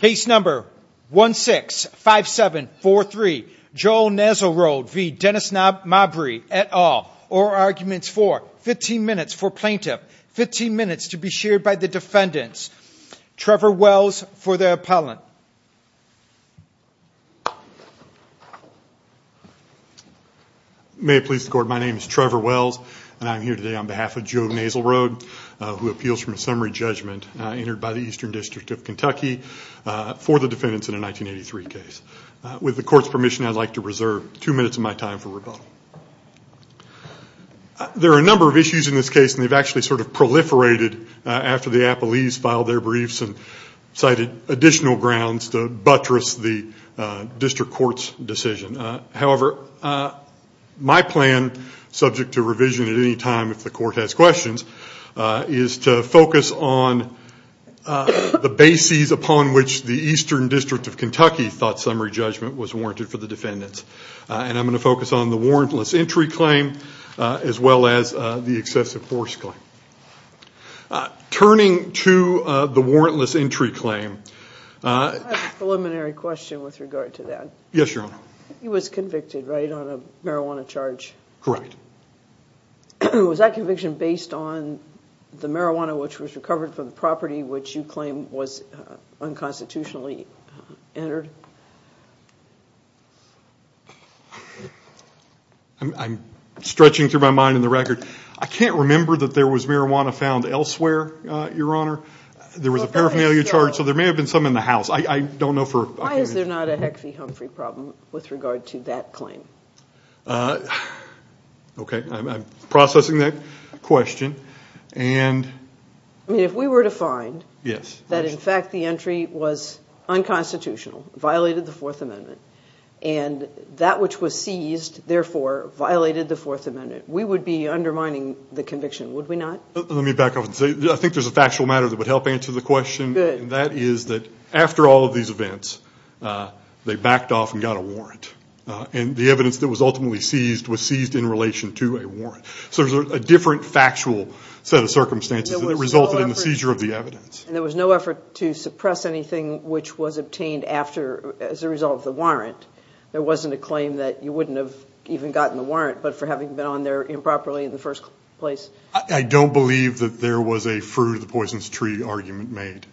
Case number 165743, Joel Naselroad v. Dennis Mabry, et al. Or arguments for 15 minutes for plaintiff, 15 minutes to be shared by the defendants. Trevor Wells for the appellant. May it please the court, my name is Trevor Wells and I'm here today on behalf of Joe Naselroad who appeals from a summary judgment entered by the Eastern District of Kentucky for the defendants in a 1983 case. With the court's permission, I'd like to reserve two minutes of my time for rebuttal. There are a number of issues in this case and they've actually sort of proliferated after the appellees filed their briefs and cited additional grounds to buttress the district court's decision. However, my plan, subject to revision at any time if the court has questions, is to focus on the bases upon which the Eastern District of Kentucky thought summary judgment was warranted for the defendants. And I'm going to focus on the warrantless entry claim as well as the excessive force claim. Turning to the warrantless entry claim... I have a preliminary question with regard to that. Yes, Your Honor. He was convicted, right, on a marijuana charge. Correct. Was that conviction based on the marijuana which was recovered from the property which you claim was unconstitutionally entered? Was the marijuana found elsewhere, Your Honor? There was a paraphernalia charge, so there may have been some in the house. Why is there not a Heckfieh-Humphrey problem with regard to that claim? Okay, I'm processing that question. I mean, if we were to find that in fact the entry was unconstitutional, violated the Fourth Amendment, and that which was seized, therefore, violated the Fourth Amendment, we would be undermining the conviction, would we not? Let me back up and say, I think there's a factual matter that would help answer the question. And that is that after all of these events, they backed off and got a warrant. And the evidence that was ultimately seized was seized in relation to a warrant. So there's a different factual set of circumstances that resulted in the seizure of the evidence. And there was no effort to suppress anything which was obtained as a result of the warrant. There wasn't a claim that you wouldn't have even gotten the warrant, but for having been on there improperly in the first place. I don't believe that there was a fruit-of-the-poison's-tree argument made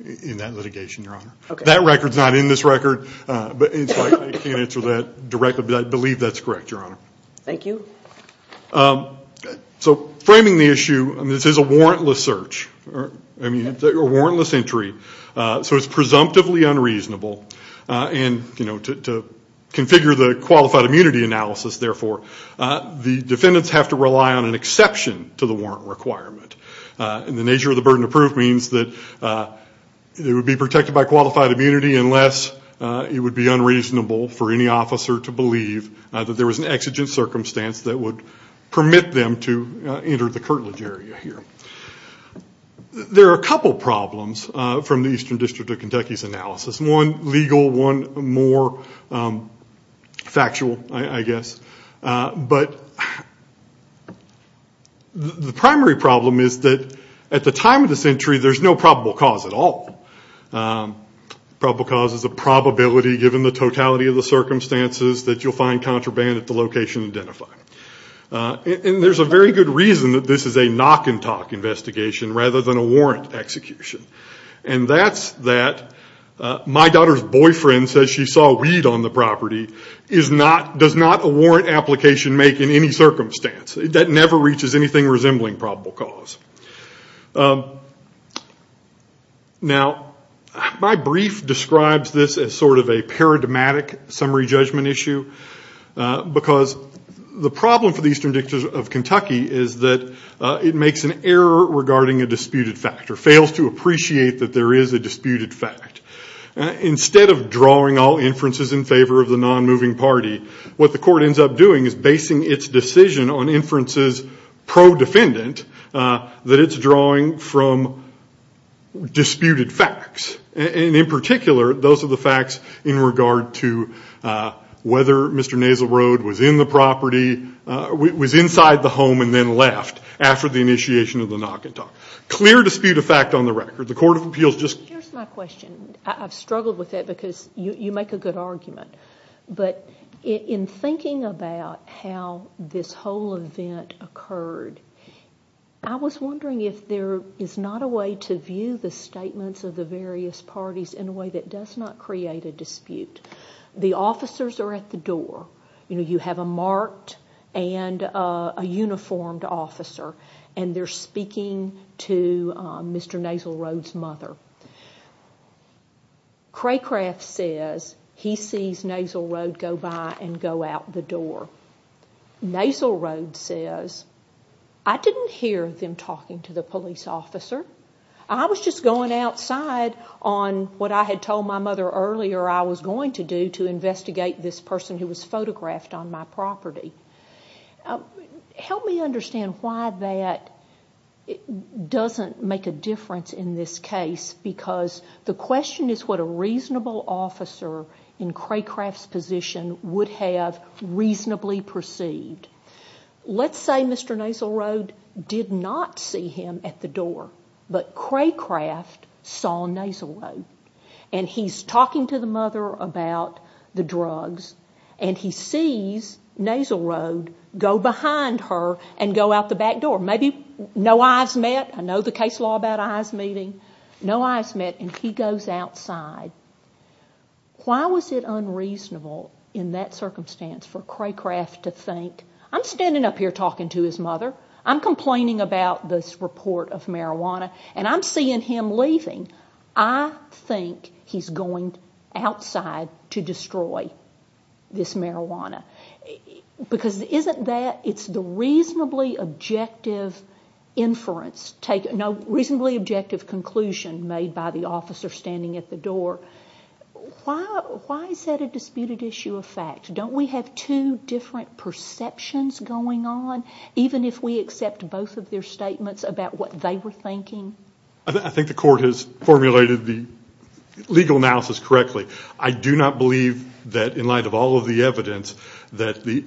in that litigation, Your Honor. That record's not in this record, but I can't answer that directly, but I believe that's correct, Your Honor. Thank you. So framing the issue, this is a warrantless search, I mean, a warrantless entry. So it's presumptively unreasonable. And, you know, to configure the qualified immunity analysis, therefore, the defendants have to rely on an exception to the warrant requirement. And the nature of the burden of proof means that it would be protected by qualified immunity unless it would be unreasonable for any officer to believe that there was an exigent circumstance that would permit them to enter the curtilage area here. There are a couple problems from the Eastern District of Kentucky's analysis. One legal, one more factual, I guess. But the primary problem is that at the time of this entry, there's no probable cause at all. Probable cause is a probability, given the totality of the circumstances, that you'll find contraband at the location identified. And there's a very good reason that this is a knock-and-talk investigation rather than a warrant execution. And that's that my daughter's boyfriend says she saw weed on the property, does not a warrant application make in any circumstance. That never reaches anything resembling probable cause. Now, my brief describes this as sort of a paradigmatic summary judgment issue because the problem for the Eastern District of Kentucky is that it makes an error regarding a disputed fact or fails to appreciate that there is a disputed fact. Instead of drawing all inferences in favor of the non-moving party, what the court ends up doing is basing its decision on inferences pro-defendant that it's drawing from disputed facts. And in particular, those are the facts in regard to whether Mr. Nasal Road was in the property, was inside the home and then left after the initiation of the knock-and-talk. Clear dispute of fact on the record. The Court of Appeals just... Here's my question. I've struggled with it because you make a good argument. But in thinking about how this whole event occurred, I was wondering if there is not a way to view the statements of the various parties in a way that does not create a dispute. The officers are at the door. You have a marked and a uniformed officer, and they're speaking to Mr. Nasal Road's mother. Craycraft says he sees Nasal Road go by and go out the door. Nasal Road says, I didn't hear them talking to the police officer. I was just going outside on what I had told my mother earlier I was going to do to investigate this person who was photographed on my property. Help me understand why that doesn't make a difference in this case because the question is what a reasonable officer in Craycraft's position would have reasonably perceived. Let's say Mr. Nasal Road did not see him at the door, but Craycraft saw Nasal Road, and he's talking to the mother about the drugs, and he sees Nasal Road go behind her and go out the back door. Maybe no eyes met. I know the case law about eyes meeting. No eyes met, and he goes outside. Why was it unreasonable in that circumstance for Craycraft to think, I'm standing up here talking to his mother. I'm complaining about this report of marijuana, and I'm seeing him leaving. I think he's going outside to destroy this marijuana because isn't that the reasonably objective inference, reasonably objective conclusion made by the officer standing at the door. Why is that a disputed issue of fact? Don't we have two different perceptions going on, even if we accept both of their statements about what they were thinking? I think the court has formulated the legal analysis correctly. I do not believe that in light of all of the evidence, that the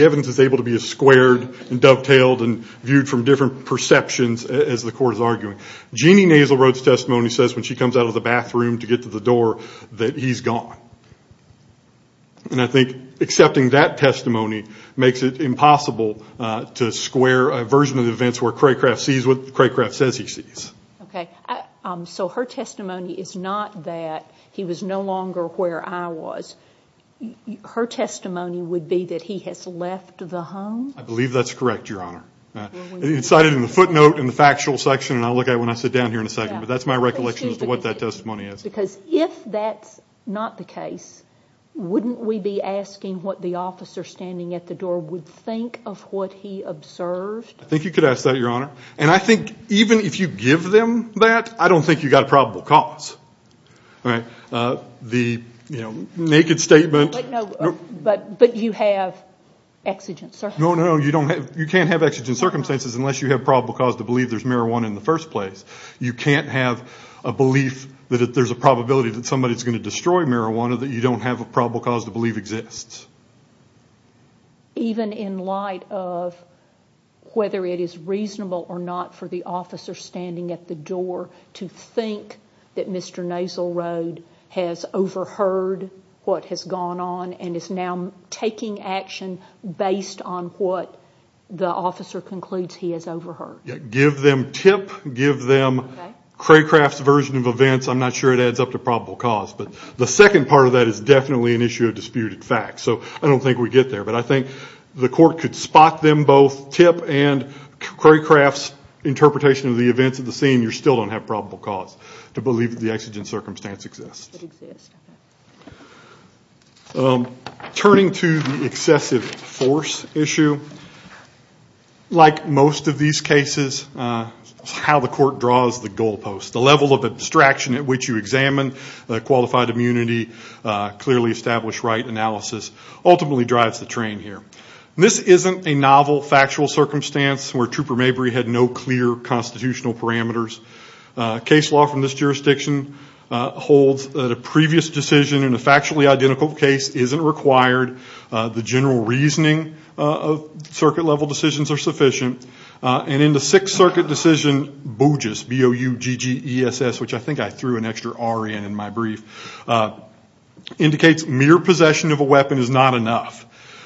evidence is able to be as squared and dovetailed and viewed from different perceptions as the court is arguing. Jeannie Nasal Road's testimony says when she comes out of the bathroom to get to the door that he's gone. I think accepting that testimony makes it impossible to square a version of the events where Craycraft sees what Craycraft says he sees. Okay. So her testimony is not that he was no longer where I was. Her testimony would be that he has left the home? I believe that's correct, Your Honor. It's cited in the footnote in the factual section, and I'll look at it when I sit down here in a second, but that's my recollection as to what that testimony is. Because if that's not the case, wouldn't we be asking what the officer standing at the door would think of what he observed? I think you could ask that, Your Honor. And I think even if you give them that, I don't think you've got a probable cause. The naked statement. But you have exigent circumstances. No, no, you can't have exigent circumstances unless you have probable cause to believe there's marijuana in the first place. You can't have a belief that if there's a probability that somebody's going to destroy marijuana that you don't have a probable cause to believe exists. Even in light of whether it is reasonable or not for the officer standing at the door to think that Mr. Nasalroad has overheard what has gone on and is now taking action based on what the officer concludes he has overheard. Give them tip, give them Craycraft's version of events. I'm not sure it adds up to probable cause. But the second part of that is definitely an issue of disputed facts. So I don't think we get there. But I think the court could spot them both, tip and Craycraft's interpretation of the events of the scene, you still don't have probable cause to believe the exigent circumstance exists. Turning to the excessive force issue. Like most of these cases, how the court draws the goalposts, the level of abstraction at which you examine qualified immunity, clearly established right analysis, ultimately drives the train here. This isn't a novel factual circumstance where Trooper Mabry had no clear constitutional parameters. Case law from this jurisdiction holds that a previous decision in a factually identical case isn't required. The general reasoning of circuit level decisions are sufficient. And in the Sixth Circuit decision, BOUGESS, B-O-U-G-G-E-S-S, which I think I threw an extra R in in my brief, indicates mere possession of a weapon is not enough.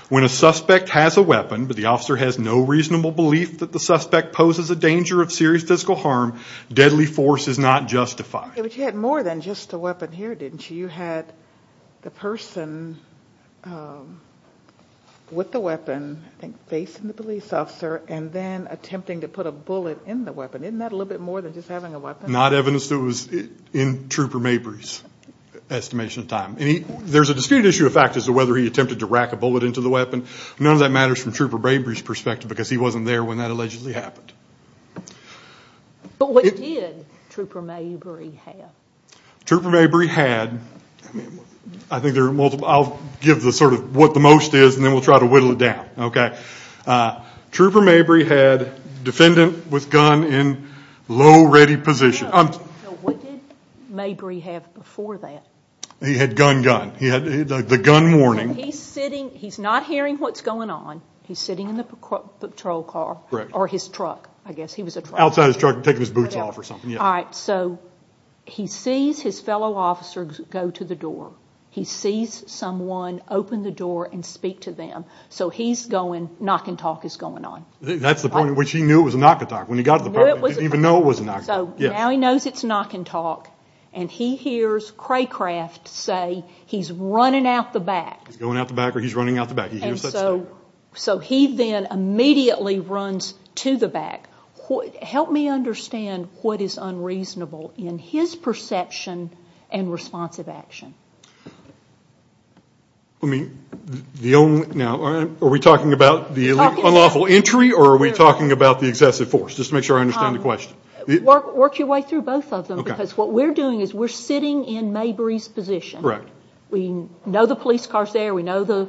When a suspect has a weapon, but the officer has no reasonable belief that the suspect poses a danger of serious physical harm, deadly force is not justified. But you had more than just a weapon here, didn't you? You had the person with the weapon facing the police officer and then attempting to put a bullet in the weapon. Isn't that a little bit more than just having a weapon? Not evidence that was in Trooper Mabry's estimation of time. There's a disputed issue of factors as to whether he attempted to rack a bullet into the weapon. None of that matters from Trooper Mabry's perspective because he wasn't there when that allegedly happened. But what did Trooper Mabry have? Trooper Mabry had, I'll give what the most is and then we'll try to whittle it down. Trooper Mabry had defendant with gun in low ready position. What did Mabry have before that? He had gun, gun. He had the gun warning. He's not hearing what's going on. He's sitting in the patrol car or his truck, I guess. Outside his truck, taking his boots off or something. All right, so he sees his fellow officers go to the door. He sees someone open the door and speak to them. So he's going, knock and talk is going on. That's the point at which he knew it was a knock and talk. When he got to the property, he didn't even know it was a knock and talk. So now he knows it's knock and talk and he hears Craycraft say he's running out the back. He's going out the back or he's running out the back. He hears that stuff. So he then immediately runs to the back. Help me understand what is unreasonable in his perception and responsive action. Are we talking about the unlawful entry or are we talking about the excessive force? Just to make sure I understand the question. Work your way through both of them because what we're doing is we're sitting in Mabry's position. We know the police car is there. We know the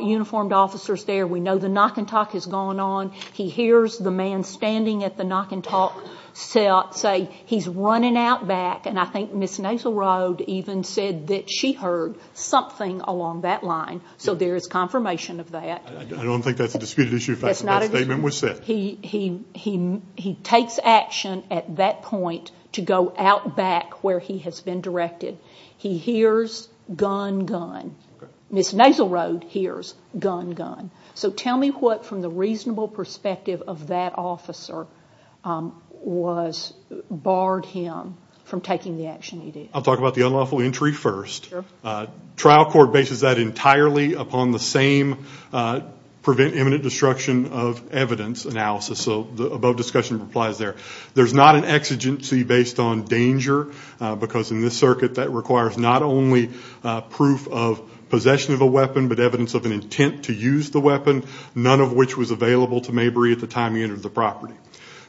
uniformed officer is there. We know the knock and talk has gone on. He hears the man standing at the knock and talk say he's running out back. And I think Ms. Nasalroad even said that she heard something along that line. So there is confirmation of that. I don't think that's a disputed issue if that statement was said. He takes action at that point to go out back where he has been directed. He hears gun, gun. Ms. Nasalroad hears gun, gun. So tell me what, from the reasonable perspective of that officer, barred him from taking the action he did. I'll talk about the unlawful entry first. Trial court bases that entirely upon the same prevent imminent destruction of evidence analysis. So the above discussion applies there. There's not an exigency based on danger because in this circuit that requires not only proof of possession of a weapon but evidence of an intent to use the weapon, none of which was available to Mabry at the time he entered the property.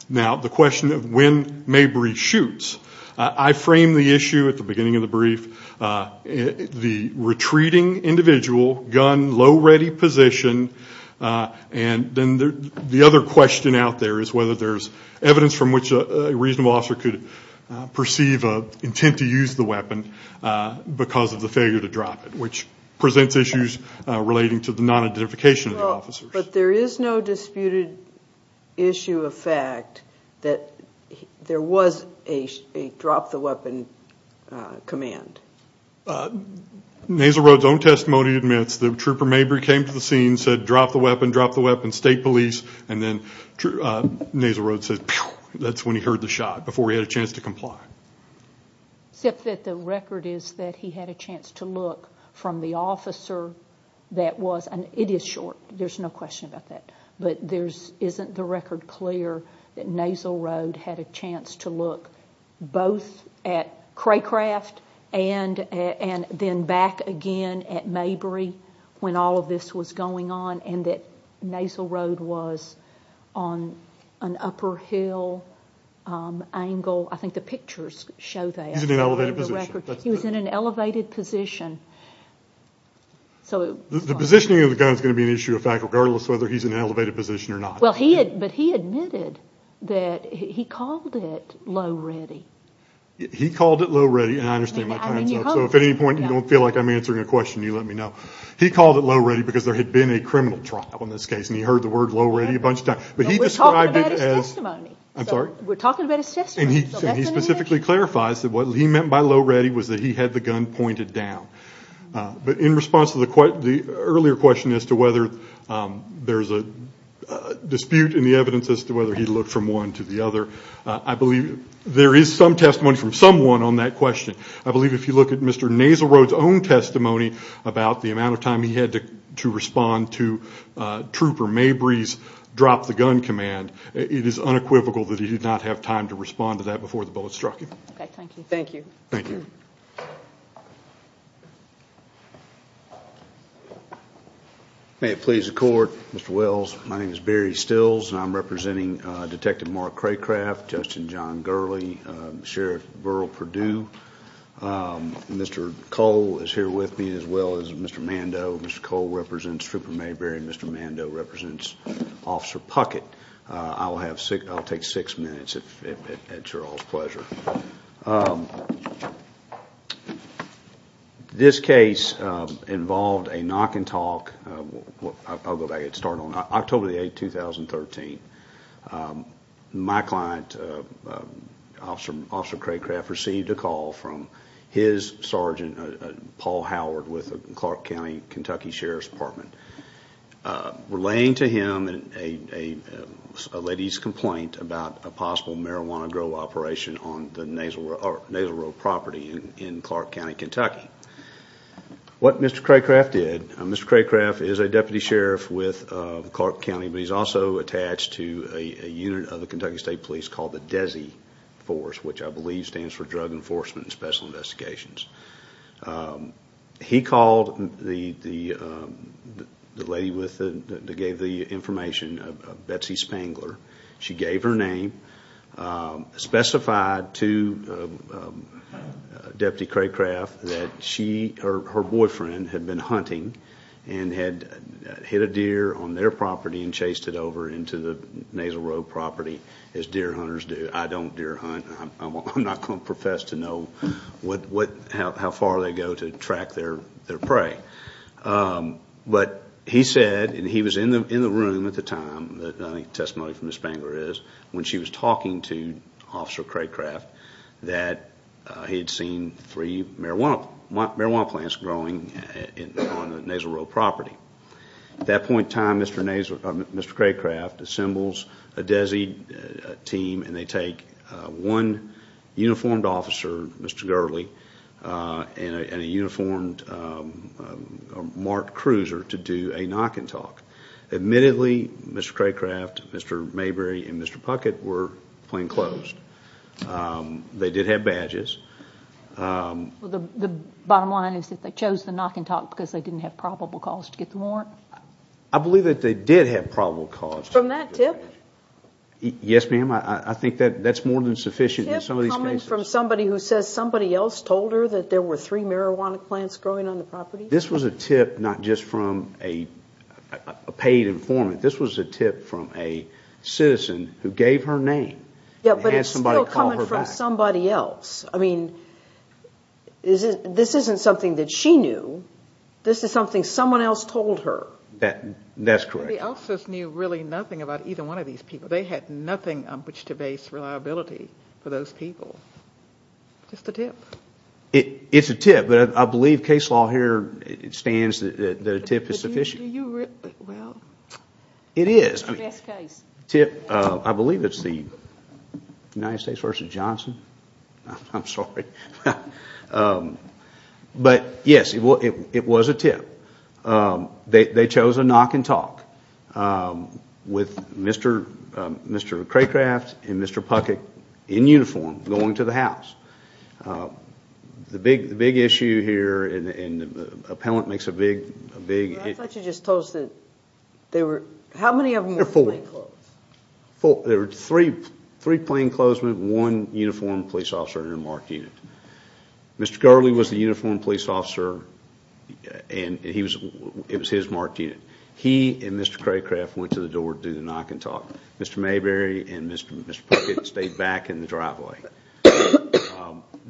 Now the question of when Mabry shoots, I framed the issue at the beginning of the brief. The retreating individual, gun, low ready position, and then the other question out there is whether there's evidence from which a reasonable officer could perceive an intent to use the weapon because of the failure to drop it, which presents issues relating to the non-identification of the officers. But there is no disputed issue of fact that there was a drop the weapon command. Nasalroad's own testimony admits that Trooper Mabry came to the scene, said drop the weapon, drop the weapon, state police, and then Nasalroad said pew, that's when he heard the shot, before he had a chance to comply. Except that the record is that he had a chance to look from the officer that was, and it is short, there's no question about that, but isn't the record clear that Nasalroad had a chance to look both at Craycraft and then back again at Mabry when all of this was going on and that Nasalroad was on an upper hill angle? I think the pictures show that. He's in an elevated position. He was in an elevated position. The positioning of the gun is going to be an issue of fact, regardless of whether he's in an elevated position or not. But he admitted that he called it low ready. He called it low ready, and I understand my time's up, so if at any point you don't feel like I'm answering a question, you let me know. He called it low ready because there had been a criminal trial in this case, and he heard the word low ready a bunch of times. We're talking about his testimony. I'm sorry? We're talking about his testimony. And he specifically clarifies that what he meant by low ready was that he had the gun pointed down. But in response to the earlier question as to whether there's a dispute in the evidence as to whether he looked from one to the other, I believe there is some testimony from someone on that question. I believe if you look at Mr. Nasalroad's own testimony about the amount of time he had to respond to Trooper Mabry's drop the gun command, it is unequivocal that he did not have time to respond to that before the bullet struck him. Okay, thank you. Thank you. Thank you. May it please the Court, Mr. Wells. My name is Barry Stills, and I'm representing Detective Mark Craycraft, Justin John Gurley, Sheriff Burrell Perdue. Mr. Cole is here with me as well as Mr. Mando. Mr. Cole represents Trooper Mabry, and Mr. Mando represents Officer Puckett. I'll take six minutes at your all's pleasure. This case involved a knock and talk. I'll go back and start on October 8, 2013. My client, Officer Craycraft, received a call from his sergeant, Paul Howard, with the Clark County, Kentucky Sheriff's Department, relaying to him a lady's complaint about a possible marijuana grow operation on the Nasalroad property in Clark County, Kentucky. What Mr. Craycraft did, Mr. Craycraft is a Deputy Sheriff with Clark County, but he's also attached to a unit of the Kentucky State Police called the DESI Force, which I believe stands for Drug Enforcement Special Investigations. He called the lady that gave the information, Betsy Spangler. She gave her name, specified to Deputy Craycraft that she or her boyfriend had been hunting and had hit a deer on their property and chased it over into the Nasalroad property, as deer hunters do. I don't deer hunt. I'm not going to profess to know how far they go to track their prey. But he said, and he was in the room at the time, the testimony from Ms. Spangler is, when she was talking to Officer Craycraft that he had seen three marijuana plants growing on the Nasalroad property. At that point in time, Mr. Craycraft assembles a DESI team, and they take one uniformed officer, Mr. Gurley, and a uniformed marked cruiser to do a knock and talk. Admittedly, Mr. Craycraft, Mr. Mayberry, and Mr. Puckett were plainclothes. They did have badges. The bottom line is that they chose the knock and talk because they didn't have probable cause to get the warrant? I believe that they did have probable cause. From that tip? Yes, ma'am. I think that's more than sufficient in some of these cases. A tip coming from somebody who says somebody else told her that there were three marijuana plants growing on the property? This was a tip not just from a paid informant. This was a tip from a citizen who gave her name and had somebody call her back. This isn't something that she knew. This is something someone else told her. That's correct. Somebody else knew really nothing about either one of these people. They had nothing on which to base reliability for those people. Just a tip. It's a tip, but I believe case law here stands that a tip is sufficient. It is. I believe it's the United States v. Johnson. I'm sorry. Yes, it was a tip. They chose a knock and talk with Mr. Craycraft and Mr. Puckett in uniform going to the house. The big issue here, and the appellant makes a big... I thought you just told us that there were... How many of them were plainclothes? There were three plainclothesmen, one uniformed police officer in a marked unit. Mr. Gurley was the uniformed police officer, and it was his marked unit. He and Mr. Craycraft went to the door to do the knock and talk. Mr. Mayberry and Mr. Puckett stayed back in the driveway.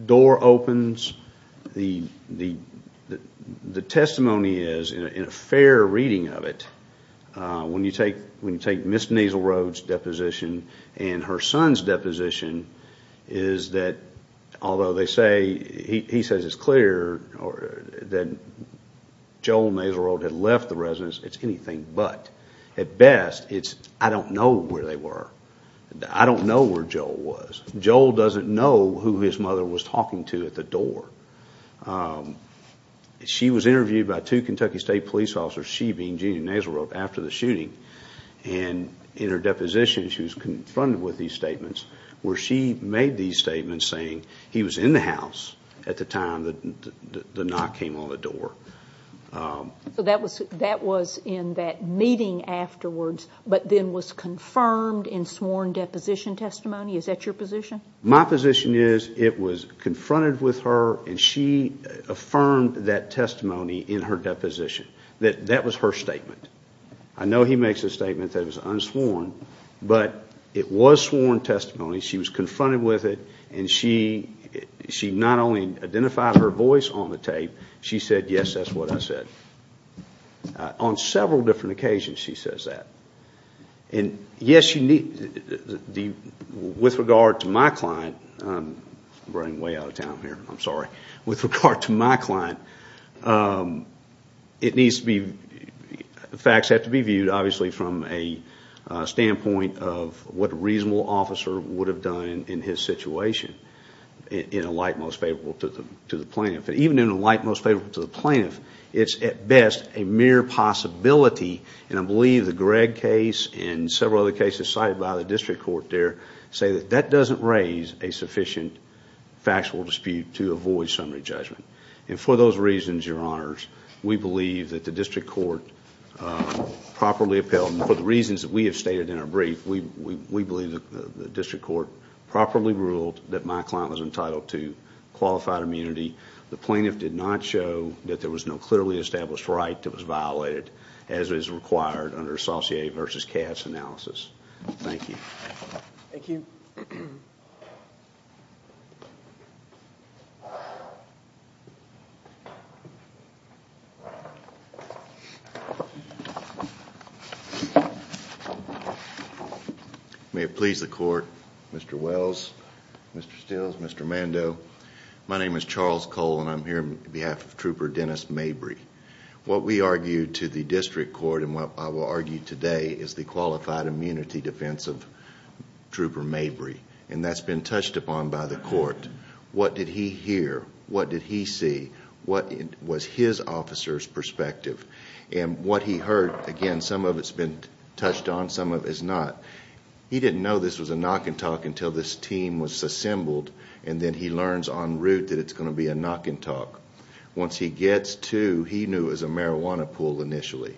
Door opens. The testimony is, in a fair reading of it, when you take Ms. Naslerode's deposition and her son's deposition, is that although he says it's clear that Joel Naslerode had left the residence, it's anything but. At best, it's, I don't know where they were. I don't know where Joel was. Joel doesn't know who his mother was talking to at the door. She was interviewed by two Kentucky State police officers, she being Judy Naslerode, after the shooting. In her deposition, she was confronted with these statements where she made these statements saying he was in the house at the time the knock came on the door. That was in that meeting afterwards, but then was confirmed in sworn deposition testimony? Is that your position? My position is it was confronted with her, and she affirmed that testimony in her deposition. That was her statement. I know he makes a statement that it was unsworn, but it was sworn testimony. She was confronted with it, and she not only identified her voice on the tape, she said, yes, that's what I said. On several different occasions, she says that. Yes, with regard to my client, I'm running way out of time here, I'm sorry. With regard to my client, facts have to be viewed, obviously, from a standpoint of what a reasonable officer would have done in his situation in a light most favorable to the plaintiff. Even in a light most favorable to the plaintiff, it's at best a mere possibility, and I believe the Gregg case and several other cases cited by the district court there say that that doesn't raise a sufficient factual dispute to avoid summary judgment. For those reasons, Your Honors, we believe that the district court properly upheld, and for the reasons that we have stated in our brief, we believe that the district court properly ruled that my client was entitled to qualified immunity. The plaintiff did not show that there was no clearly established right that was violated, as is required under associated versus cast analysis. Thank you. Thank you. May it please the Court, Mr. Wells, Mr. Stills, Mr. Mando, my name is Charles Cole, and I'm here on behalf of Trooper Dennis Mabry. What we argued to the district court, and what I will argue today, is the qualified immunity defense of Trooper Mabry, and that's been touched upon by the court. What did he hear? What did he see? What was his officer's perspective? And what he heard, again, some of it's been touched on, some of it's not. He didn't know this was a knock and talk until this team was assembled, and then he learns en route that it's going to be a knock and talk. Once he gets to, he knew it was a marijuana pool initially.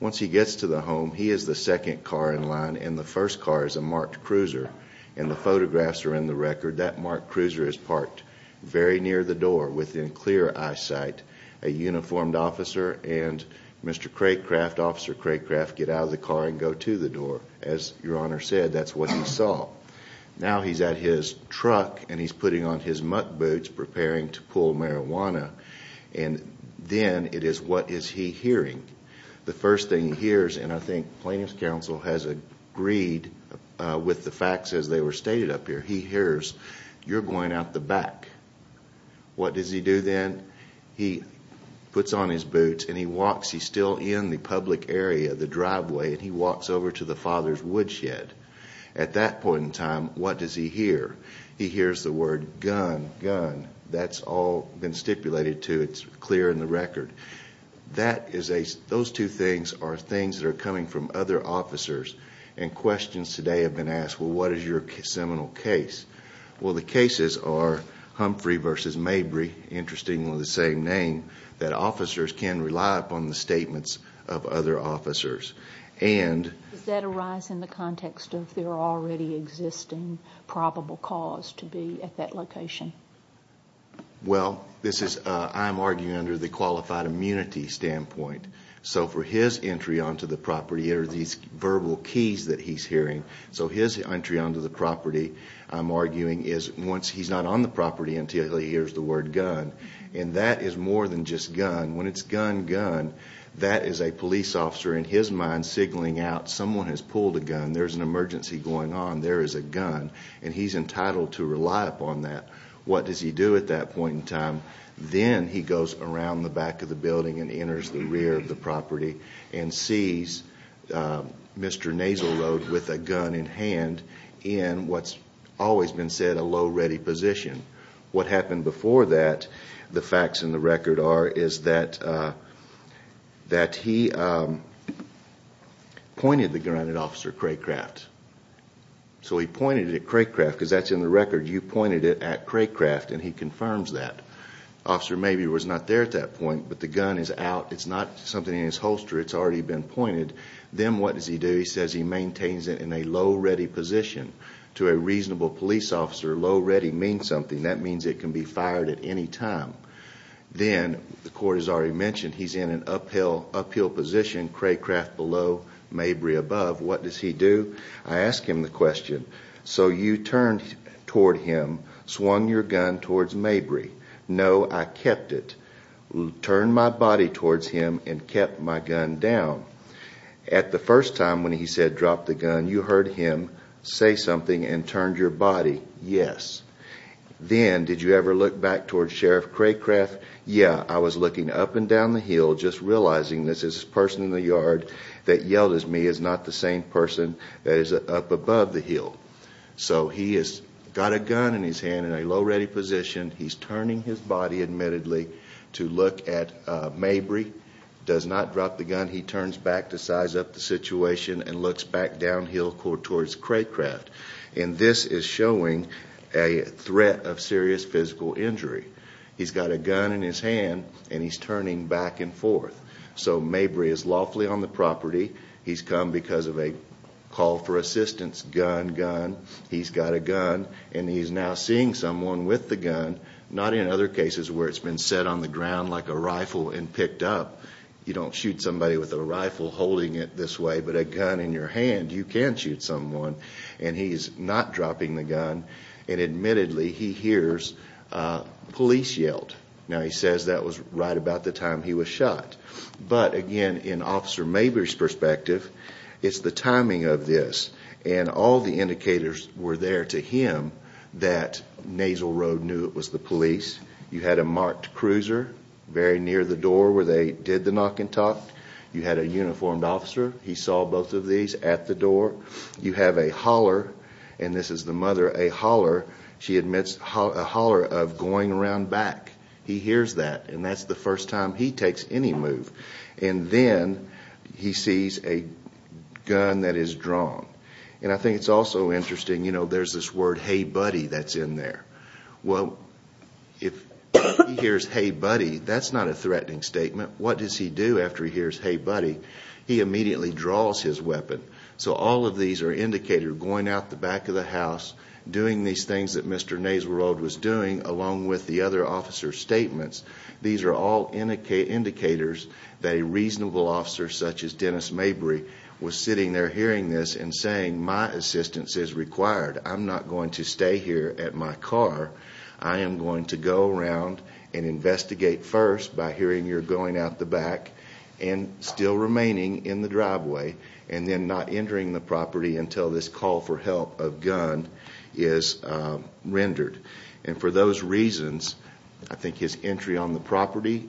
Once he gets to the home, he is the second car in line, and the first car is a marked cruiser, and the photographs are in the record. That marked cruiser is parked very near the door, within clear eyesight. A uniformed officer and Mr. Craycraft, Officer Craycraft, get out of the car and go to the door. As Your Honor said, that's what he saw. Now he's at his truck, and he's putting on his muck boots, preparing to pull marijuana, and then it is, what is he hearing? The first thing he hears, and I think Plaintiff's Counsel has agreed with the facts as they were stated up here, he hears, you're going out the back. What does he do then? He puts on his boots, and he walks, he's still in the public area, the driveway, and he walks over to the father's woodshed. At that point in time, what does he hear? He hears the word, gun, gun. That's all been stipulated to, it's clear in the record. Those two things are things that are coming from other officers, and questions today have been asked, well, what is your seminal case? Well, the cases are Humphrey v. Mabry, interestingly the same name, that officers can rely upon the statements of other officers. Does that arise in the context of there already existing probable cause to be at that location? Well, I'm arguing under the qualified immunity standpoint. So for his entry onto the property, there are these verbal keys that he's hearing. So his entry onto the property, I'm arguing, is once he's not on the property until he hears the word gun, and that is more than just gun. When it's gun, gun, that is a police officer in his mind signaling out, someone has pulled a gun, there's an emergency going on, there is a gun, and he's entitled to rely upon that. What does he do at that point in time? Then he goes around the back of the building and enters the rear of the property and sees Mr. Nasal Road with a gun in hand in what's always been said a low ready position. What happened before that, the facts in the record are, is that he pointed the gun at Officer Craycraft. So he pointed it at Craycraft, because that's in the record. You pointed it at Craycraft, and he confirms that. Officer Mabry was not there at that point, but the gun is out. It's not something in his holster, it's already been pointed. Then what does he do? He says he maintains it in a low ready position. To a reasonable police officer, low ready means something. That means it can be fired at any time. Then the court has already mentioned he's in an uphill position, Craycraft below, Mabry above. What does he do? I ask him the question. So you turned toward him, swung your gun towards Mabry. No, I kept it. Turned my body towards him and kept my gun down. At the first time when he said drop the gun, you heard him say something and turned your body. Yes. Then, did you ever look back towards Sheriff Craycraft? Yeah, I was looking up and down the hill, just realizing this is a person in the yard that yelled at me is not the same person that is up above the hill. So he has got a gun in his hand in a low ready position. He's turning his body, admittedly, to look at Mabry. Does not drop the gun. He turns back to size up the situation and looks back downhill towards Craycraft. This is showing a threat of serious physical injury. He's got a gun in his hand, and he's turning back and forth. So Mabry is lawfully on the property. He's come because of a call for assistance, gun, gun. He's got a gun, and he's now seeing someone with the gun, not in other cases where it's been set on the ground like a rifle and picked up. You don't shoot somebody with a rifle holding it this way, but a gun in your hand, you can shoot someone. And he's not dropping the gun, and admittedly, he hears police yelled. Now, he says that was right about the time he was shot. But again, in Officer Mabry's perspective, it's the timing of this, and all the indicators were there to him that Nasal Road knew it was the police. You had a marked cruiser very near the door where they did the knock and talk. You had a uniformed officer. He saw both of these at the door. You have a holler, and this is the mother, a holler. She admits a holler of going around back. He hears that, and that's the first time he takes any move. And then he sees a gun that is drawn. And I think it's also interesting, you know, there's this word, hey, buddy, that's in there. Well, if he hears, hey, buddy, that's not a threatening statement. What does he do after he hears, hey, buddy? He immediately draws his weapon. So all of these are indicators, going out the back of the house, doing these things that Mr. Nasal Road was doing, along with the other officer's statements. These are all indicators that a reasonable officer such as Dennis Mabry was sitting there hearing this and saying my assistance is required. I'm not going to stay here at my car. I am going to go around and investigate first by hearing you're going out the back and still remaining in the driveway and then not entering the property until this call for help of gun is rendered. And for those reasons, I think his entry on the property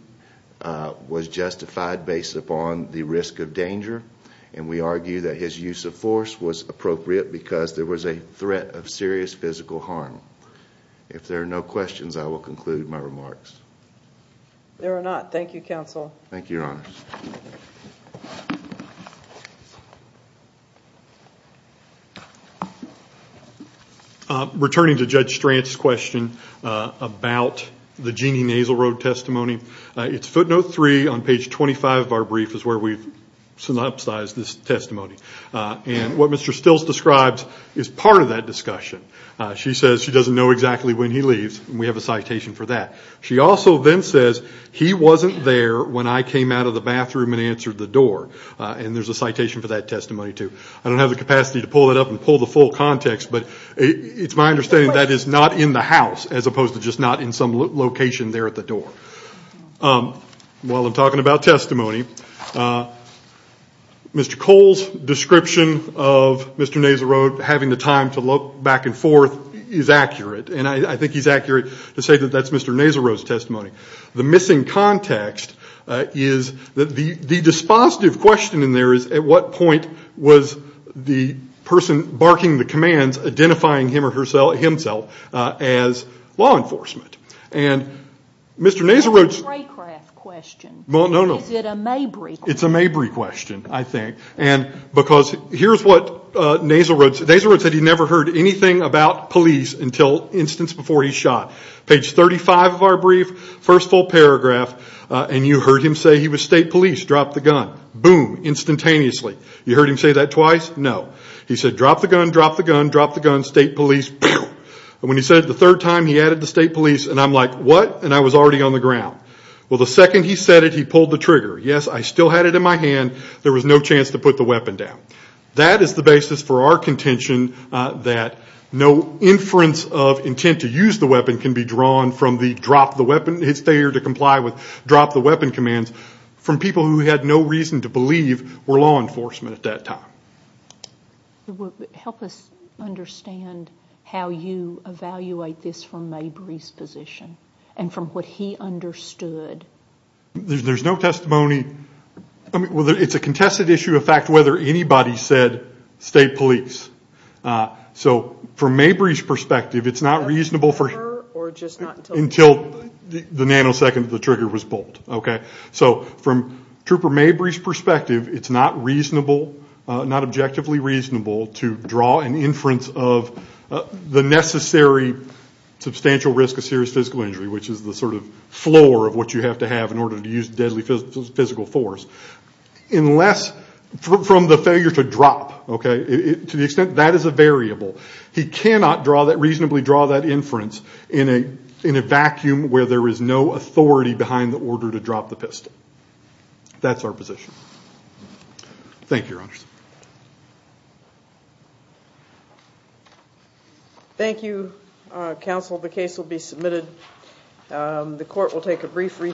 was justified based upon the risk of danger. And we argue that his use of force was appropriate because there was a threat of serious physical harm. If there are no questions, I will conclude my remarks. There are not. Thank you, Your Honor. Thank you. Returning to Judge Strantz's question about the Jeanne Nasal Road testimony, it's footnote three on page 25 of our brief is where we've synopsized this testimony. And what Mr. Stills describes is part of that discussion. She says she doesn't know exactly when he leaves, and we have a citation for that. She also then says he wasn't there when I came out of the bathroom and answered the door. And there's a citation for that testimony, too. I don't have the capacity to pull it up and pull the full context, but it's my understanding that is not in the house as opposed to just not in some location there at the door. While I'm talking about testimony, Mr. Cole's description of Mr. Nasal Road having the time to look back and forth is accurate. And I think he's accurate to say that that's Mr. Nasal Road's testimony. The missing context is that the dispositive question in there is, at what point was the person barking the commands identifying him or herself as law enforcement? And Mr. Nasal Road's- It's a Raycraft question. No, no, no. Is it a Mabry question? It's a Mabry question, I think. And because here's what Nasal Road said. Nasal Road said he never heard anything about police until an instance before he shot. Page 35 of our brief, first full paragraph, and you heard him say he was state police. Drop the gun. Boom, instantaneously. You heard him say that twice? No. He said, drop the gun, drop the gun, drop the gun, state police. And when he said it the third time, he added the state police. And I'm like, what? And I was already on the ground. Well, the second he said it, he pulled the trigger. Yes, I still had it in my hand. There was no chance to put the weapon down. That is the basis for our contention that no inference of intent to use the weapon can be drawn from the drop the weapon, his failure to comply with drop the weapon commands, from people who had no reason to believe were law enforcement at that time. Help us understand how you evaluate this from Mabry's position and from what he understood. There's no testimony. Well, it's a contested issue of fact whether anybody said state police. So from Mabry's perspective, it's not reasonable until the nanosecond of the trigger was pulled. So from Trooper Mabry's perspective, it's not reasonable, not objectively reasonable to draw an inference of the necessary substantial risk of serious physical injury, which is the sort of floor of what you have to have in order to use deadly physical force. Unless from the failure to drop, to the extent that is a variable, he cannot reasonably draw that inference in a vacuum where there is no authority behind the order to drop the pistol. That's our position. Thank you, Your Honors. Thank you, Counsel. The case will be submitted. The court will take a brief recess.